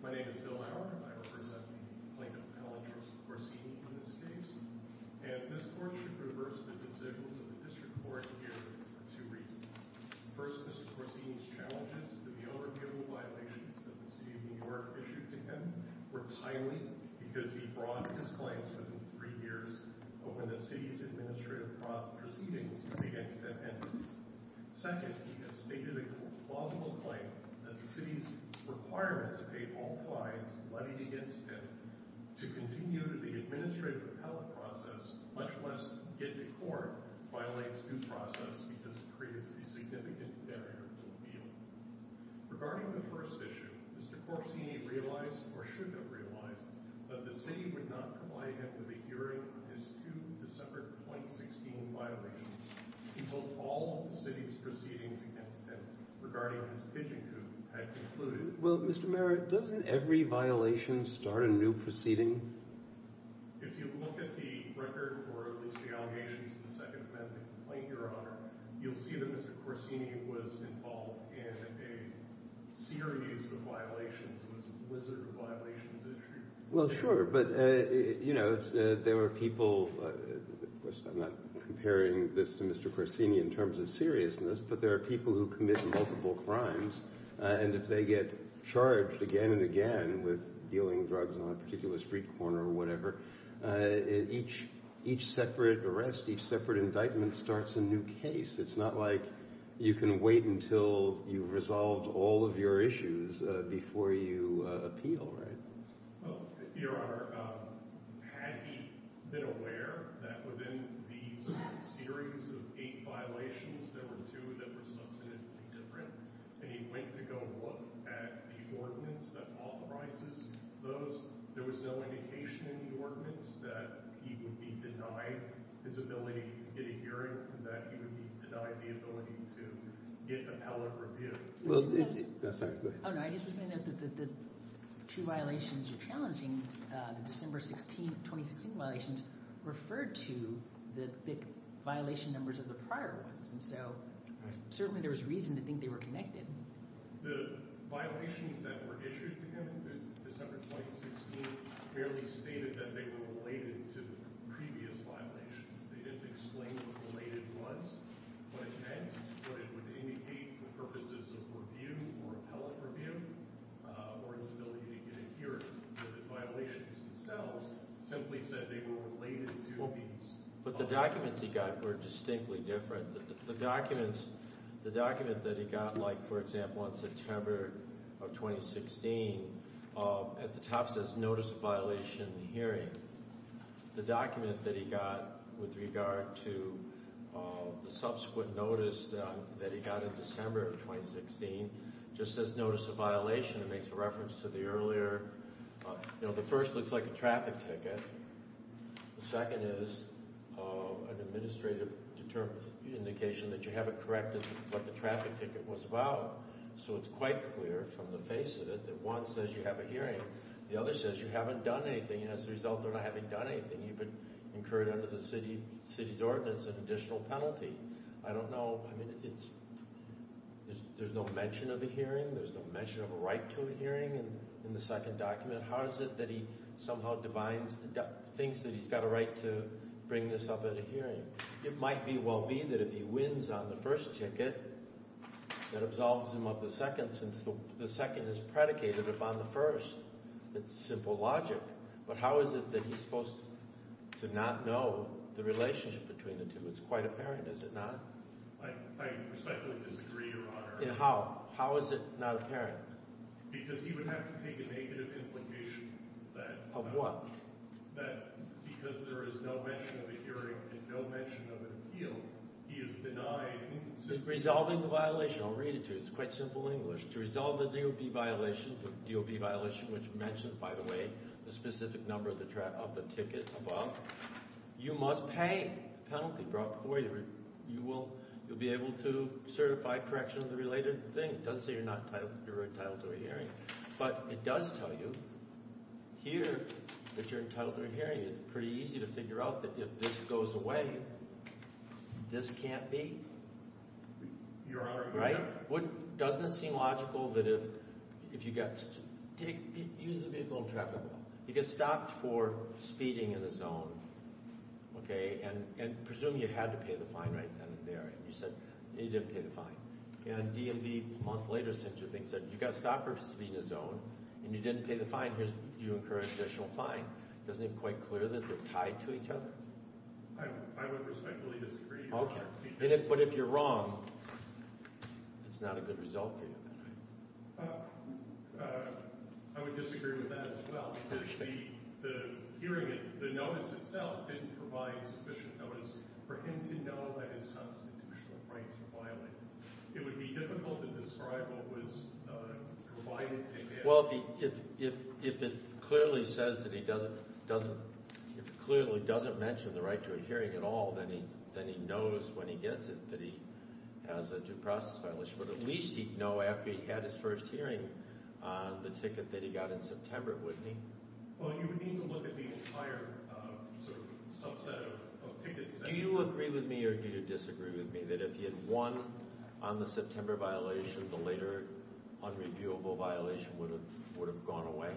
My name is Bill Maurer, and I represent the plaintiff, Alan Joseph Corsini, in this case. And this court should reverse the decisions of the district court here for two reasons. First, Mr. Corsini's challenges to the overview of the violations that the City of New York issued to him were timely, because he broadened his claims within three years of when the city's administrative proceedings against him ended. Second, he has stated a plausible claim that the city's requirement to pay all clients, letting against him, to continue the administrative appellate process, much less get to court, violates due process because it creates a significant barrier to appeal. Regarding the first issue, Mr. Corsini realized, or should have realized, that the city would not comply him with a hearing on his two December 2016 violations. He felt all of the city's proceedings against him regarding his pigeon coop had concluded. Well, Mr. Maurer, doesn't every violation start a new proceeding? If you look at the record, or at least the allegations of the second amendment complaint, Your Honor, you'll see that Mr. Corsini was involved in a series of violations. It was a blizzard of violations issued. Well, sure, but, you know, there are people, of course I'm not comparing this to Mr. Corsini in terms of seriousness, but there are people who commit multiple crimes, and if they get charged again and again with dealing drugs on a particular street corner or whatever, each separate arrest, each separate indictment starts a new case. It's not like you can wait until you've resolved all of your issues before you appeal, right? Well, Your Honor, had he been aware that within the series of eight violations there were two that were substantially different, and he went to go look at the ordinance that authorizes those, there was no indication in the ordinance that he would be denied his ability to get a hearing, and that he would be denied the ability to get appellate review. I just was going to note that the two violations you're challenging, the December 2016 violations, referred to the violation numbers of the prior ones, and so certainly there was reason to think they were connected. The violations that were issued to him in December 2016 fairly stated that they were related to previous violations. They didn't explain what related was, what it meant, what it would indicate for purposes of review or appellate review, or his ability to get a hearing. The violations themselves simply said they were related to these. But the documents he got were distinctly different. The documents that he got, like, for example, on September of 2016, at the top it says, Notice of Violation in the Hearing. The document that he got with regard to the subsequent notice that he got in December of 2016 just says Notice of Violation. It makes reference to the earlier, you know, the first looks like a traffic ticket. The second is an administrative indication that you haven't corrected what the traffic ticket was about. So it's quite clear from the face of it that one says you have a hearing. The other says you haven't done anything, and as a result they're not having done anything. You've been incurred under the city's ordinance an additional penalty. I don't know. I mean, there's no mention of a hearing. There's no mention of a right to a hearing in the second document. How is it that he somehow thinks that he's got a right to bring this up at a hearing? It might well be that if he wins on the first ticket, that absolves him of the second since the second is predicated upon the first. It's simple logic. But how is it that he's supposed to not know the relationship between the two? It's quite apparent, is it not? I respectfully disagree, Your Honor. How? How is it not apparent? Because he would have to take a negative implication that— Of what? Because there is no mention of a hearing and no mention of an appeal, he is denied— Resolving the violation. I'll read it to you. It's quite simple in English. To resolve the DOP violation, which mentions, by the way, the specific number of the ticket above, you must pay a penalty brought before you. You'll be able to certify correction of the related thing. It doesn't say you're entitled to a hearing. But it does tell you here that you're entitled to a hearing. It's pretty easy to figure out that if this goes away, this can't be. Your Honor— Right? Doesn't it seem logical that if you get—use the vehicle and traffic law. You get stopped for speeding in a zone, okay, and presume you had to pay the fine right then and there. You said you didn't pay the fine. And DMV a month later sent you a thing that said you got stopped for speeding in a zone and you didn't pay the fine. Here's—you incur an additional fine. Isn't it quite clear that they're tied to each other? I would respectfully disagree. Okay. But if you're wrong, it's not a good result for you. I would disagree with that as well. The hearing—the notice itself didn't provide sufficient notice for him to know that his constitutional rights were violated. It would be difficult to describe what was provided to him. Well, if it clearly says that he doesn't—if it clearly doesn't mention the right to a hearing at all, then he knows when he gets it that he has a due process violation. But at least he'd know after he had his first hearing on the ticket that he got in September, wouldn't he? Well, you would need to look at the entire sort of subset of tickets that— Do you agree with me or do you disagree with me that if he had won on the September violation, the later unreviewable violation would have gone away?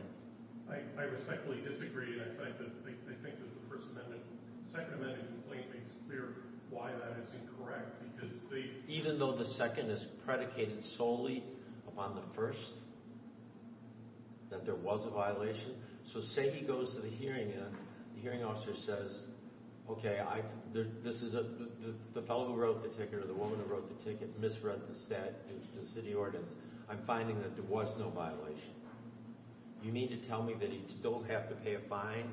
I respectfully disagree. In fact, I think that the First Amendment—Second Amendment complaint makes clear why that is incorrect because they— it's predicated solely upon the first, that there was a violation. So say he goes to the hearing and the hearing officer says, Okay, I've—this is a—the fellow who wrote the ticket or the woman who wrote the ticket misread the stat—the city ordinance. I'm finding that there was no violation. You mean to tell me that he'd still have to pay a fine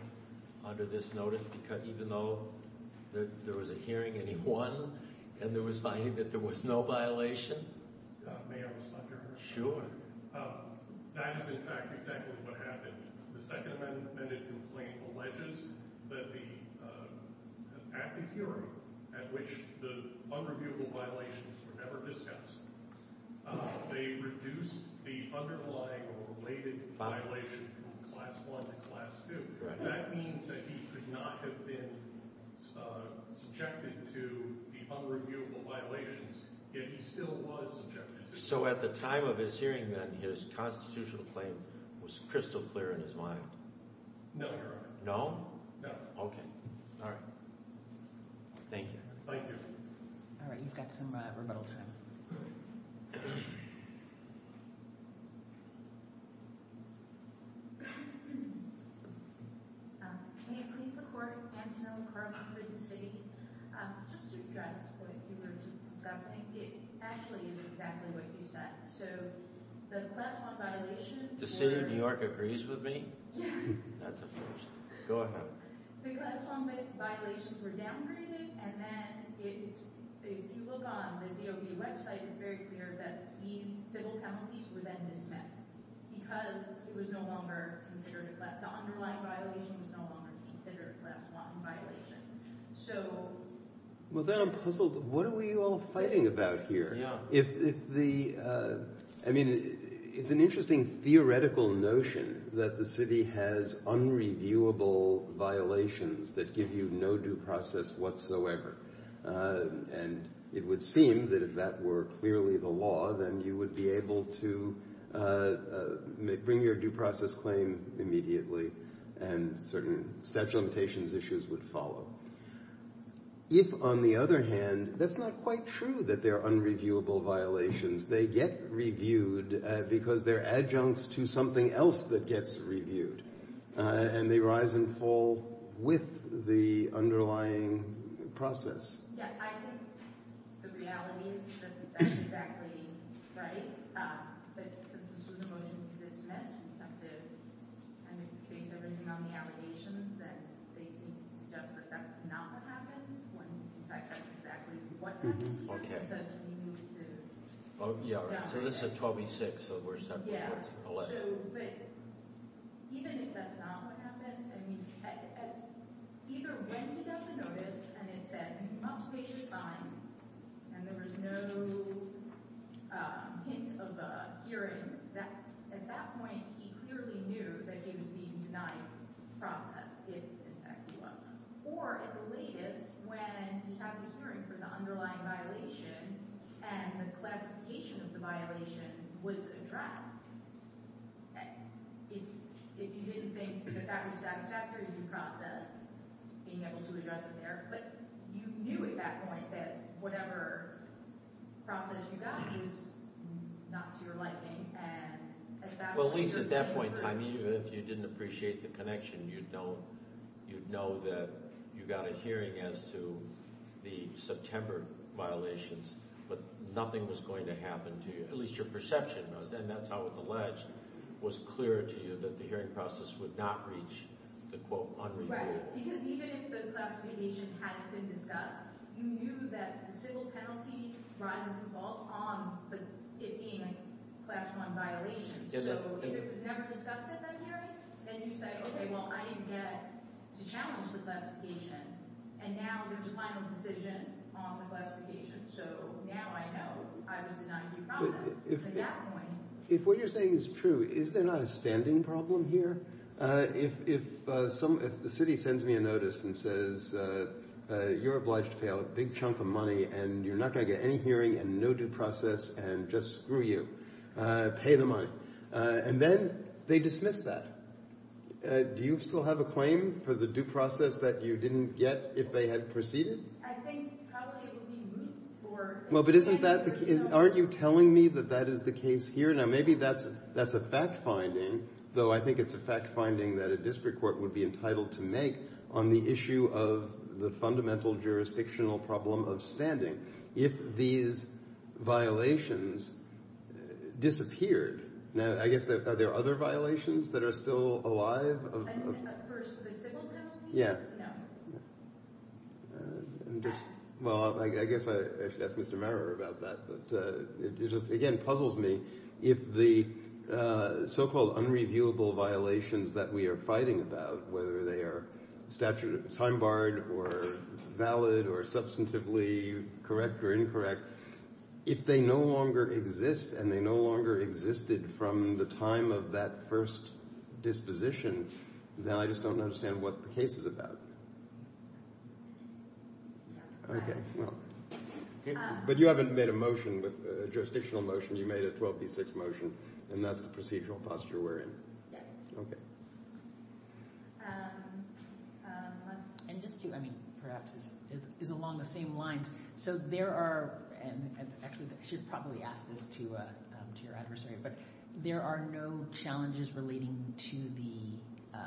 under this notice because—even though there was a hearing and he won and there was finding that there was no violation? May I respond to your question? That is, in fact, exactly what happened. The Second Amendment complaint alleges that the—at the hearing, at which the unreviewable violations were never discussed, they reduced the underlying or related violation from Class I to Class II. That means that he could not have been subjected to the unreviewable violations, yet he still was subjected to them. So at the time of his hearing, then, his constitutional claim was crystal clear in his mind? No, Your Honor. No? No. Okay. All right. Thank you. Thank you. All right. You've got some rebuttal time. All right. May it please the Court, Antonio McCarthy for the city. Just to address what you were just discussing, it actually is exactly what you said. So the Class I violations were— The City of New York agrees with me? Yeah. That's a first. Go ahead. The Class I violations were downgraded, and then it's—if you look on the DOJ website, it's very clear that these civil penalties were then dismissed because it was no longer considered—the underlying violation was no longer considered a Class I violation. So— Well, then I'm puzzled. What are we all fighting about here? Yeah. If the—I mean, it's an interesting theoretical notion that the city has unreviewable violations that give you no due process whatsoever. And it would seem that if that were clearly the law, then you would be able to bring your due process claim immediately, and certain statute of limitations issues would follow. If, on the other hand, that's not quite true that they're unreviewable violations. They get reviewed because they're adjuncts to something else that gets reviewed. And they rise and fall with the underlying process. Yeah, I think the reality is that that's exactly right. But since this was a motion to dismiss, we have to kind of base everything on the allegations, and they seem to suggest that that's not what happens when, in fact, that's exactly what happened. Okay. Because we moved to— Oh, yeah, right. So this is 12-6, so we're— Yeah. That's 11. So, but even if that's not what happened, I mean, either when you got the notice and it said, And there was no hint of a hearing. At that point, he clearly knew that he was being denied process if, in fact, he wasn't. Or at the latest, when he had the hearing for the underlying violation and the classification of the violation was addressed. If you didn't think that that was satisfactory due process, being able to address it there, but you knew at that point that whatever process you got to use, not to your liking. And at that point— Well, at least at that point in time, even if you didn't appreciate the connection, you'd know that you got a hearing as to the September violations, but nothing was going to happen to you. At least your perception was, and that's how it's alleged, was clear to you that the hearing process would not reach the, quote, unreviewable. Right, because even if the classification hadn't been discussed, you knew that the civil penalty rises and falls on it being a Class 1 violation. So if it was never discussed at that hearing, then you say, Okay, well, I didn't get to challenge the classification, and now there's a final decision on the classification. So now I know I was denied due process at that point. If what you're saying is true, is there not a standing problem here? If the city sends me a notice and says, You're obliged to pay out a big chunk of money, and you're not going to get any hearing and no due process, and just screw you. Pay the money. And then they dismiss that. Do you still have a claim for the due process that you didn't get if they had proceeded? I think probably it would be moot for— Well, but isn't that—aren't you telling me that that is the case here? Maybe that's a fact-finding, though I think it's a fact-finding that a district court would be entitled to make on the issue of the fundamental jurisdictional problem of standing, if these violations disappeared. Now, I guess, are there other violations that are still alive? I mean, at first, the civil penalty? Yeah. No. Well, I guess I should ask Mr. Marra about that. It just, again, puzzles me. If the so-called unreviewable violations that we are fighting about, whether they are time-barred or valid or substantively correct or incorrect, if they no longer exist and they no longer existed from the time of that first disposition, then I just don't understand what the case is about. Okay. Well, but you haven't made a motion, a jurisdictional motion. You made a 12B6 motion, and that's the procedural posture we're in. Yes. Okay. And just to—I mean, perhaps this is along the same lines. So there are—and actually I should probably ask this to your adversary, but there are no challenges relating to the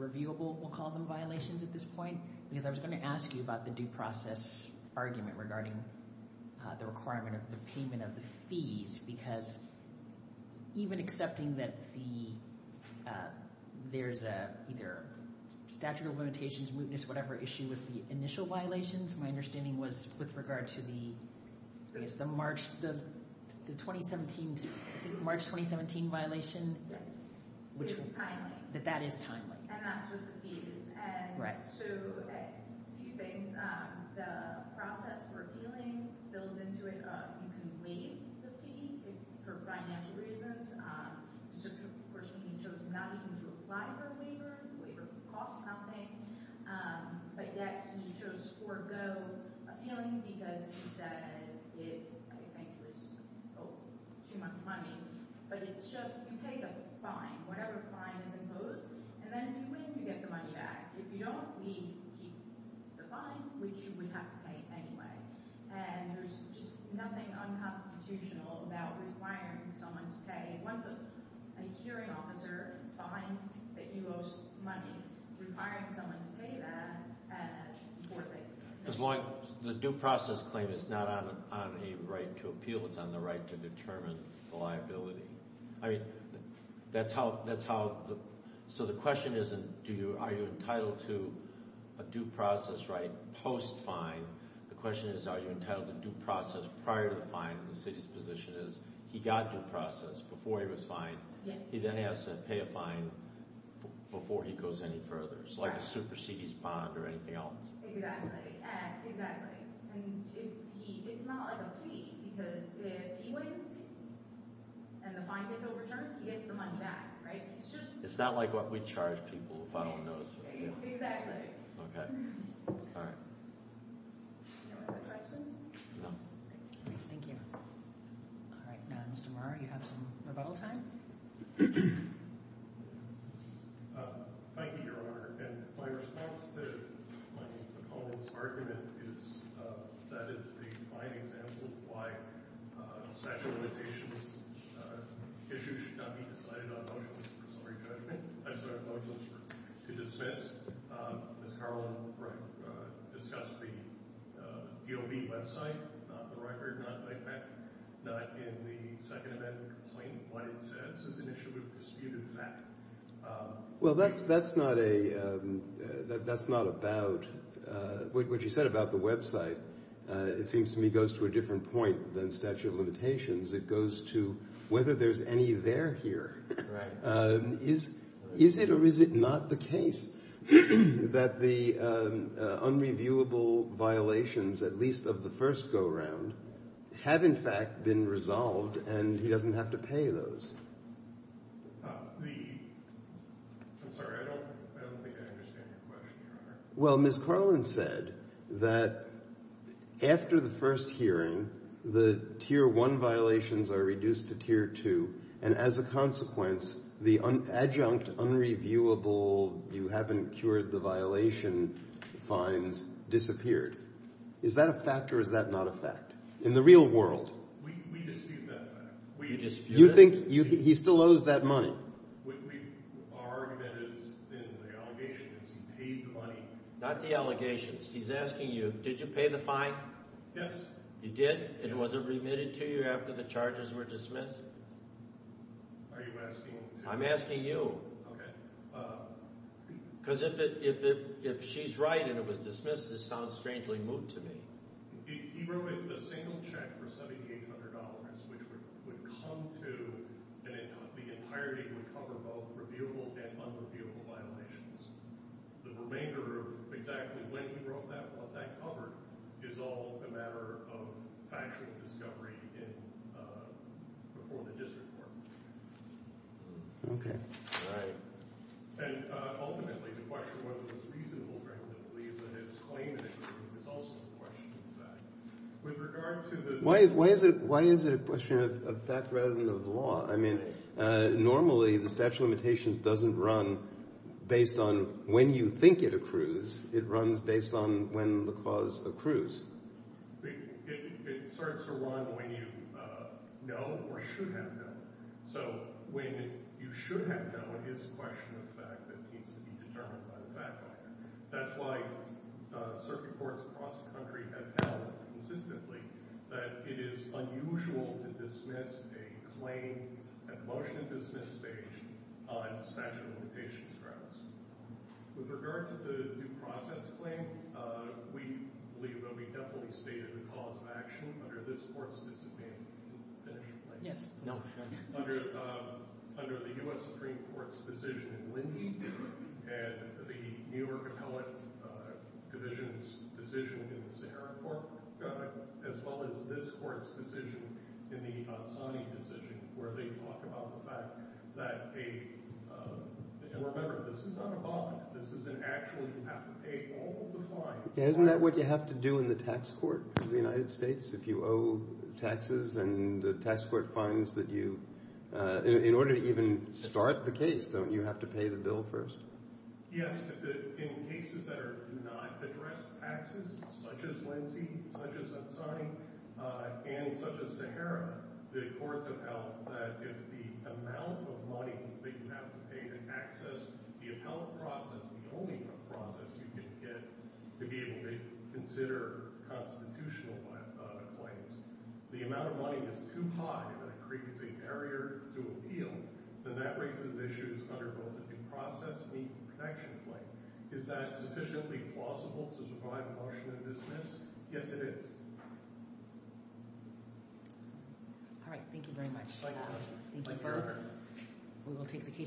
reviewable, we'll call them, violations at this point because I was going to ask you about the due process argument regarding the payment of the fees because even accepting that there's either statute of limitations, mootness, whatever issue with the initial violations, my understanding was with regard to the March 2017 violation, that that is timely. And that's what the fee is. Right. And so a few things. The process for appealing builds into it. You can waive the fee for financial reasons. So, of course, he chose not even to apply for a waiver. The waiver would cost something. But yet he chose to forgo appealing because he said it, I think, was too much money. But it's just you pay the fine, whatever fine is imposed, and then if you win, you get the money back. If you don't, we keep the fine, which we have to pay anyway. And there's just nothing unconstitutional about requiring someone to pay. Once a hearing officer finds that he owes money, requiring someone to pay that, that's worth it. The due process claim is not on a right to appeal. It's on the right to determine the liability. I mean, that's how—so the question isn't are you entitled to a due process right post-fine. The question is are you entitled to due process prior to the fine. The city's position is he got due process before he was fined. He then has to pay a fine before he goes any further. It's like a supersedes bond or anything else. Exactly. Exactly. It's not like a fee because if he wins and the fine gets overturned, he gets the money back. It's not like what we charge people if I don't notice. Exactly. Okay. All right. Any other questions? No. Thank you. All right. Now, Mr. Murrow, you have some rebuttal time. Thank you, Your Honor. And my response to my opponent's argument is that is the fine example of why a statute of limitations issue should not be decided on a motion to dismiss. Ms. Carlin discussed the DOB website, not the record, not IPAC, not in the second amendment complaint. What it says is an issue of dispute of fact. Well, that's not a – that's not about – what you said about the website, it seems to me goes to a different point than statute of limitations. It goes to whether there's any there here. Right. Is it or is it not the case that the unreviewable violations, at least of the first go-around, have in fact been resolved and he doesn't have to pay those? The – I'm sorry. I don't think I understand your question, Your Honor. Well, Ms. Carlin said that after the first hearing, the Tier 1 violations are reduced to Tier 2, and as a consequence, the adjunct unreviewable, you haven't cured the violation fines disappeared. Is that a fact or is that not a fact? In the real world. We dispute that fact. You dispute it? You think – he still owes that money. Our argument is in the allegations. He paid the money. Not the allegations. He's asking you, did you pay the fine? Yes. You did? And was it remitted to you after the charges were dismissed? Are you asking – I'm asking you. Okay. Because if it – if she's right and it was dismissed, it sounds strangely moot to me. He wrote a single check for $7,800, which would come to – the entirety would cover both reviewable and unreviewable violations. The remainder of exactly when he wrote that, what that covered, is all a matter of factual discovery in – before the district court. Okay. All right. And ultimately, the question whether it was reasonable for him to believe that his claim is true is also a question of fact. With regard to the – Why is it a question of fact rather than of law? I mean normally the statute of limitations doesn't run based on when you think it accrues. It runs based on when the cause accrues. It starts to run when you know or should have known. So, when you should have known is a question of fact that needs to be determined by the fact-finder. That's why certain courts across the country have found consistently that it is unusual to dismiss a claim at the motion-to-dismiss stage on statute of limitations grounds. With regard to the due process claim, we believe that we definitely stated the cause of action under this court's discipline. Yes. No. Under the U.S. Supreme Court's decision in Lindsay and the New York Appellate Division's decision in the Sahara Court, as well as this court's decision in the Ansani decision where they talked about the fact that a – and remember, this is not a bond. This is an actual – you have to pay all the fines. Isn't that what you have to do in the tax court in the United States? If you owe taxes and the tax court finds that you – in order to even start the case, don't you have to pay the bill first? Yes. In cases that do not address taxes, such as Lindsay, such as Ansani, and such as Sahara, the courts have held that if the amount of money that you have to pay to access the appellate process, the only process you can get to be able to consider constitutional claims, the amount of money is too high and it creates a barrier to appeal, and that raises issues under both the due process and the connection claim. Is that sufficiently plausible to provide a motion to dismiss? Yes, it is. All right. Thank you very much. Thank you. Thank you both. We will take the case.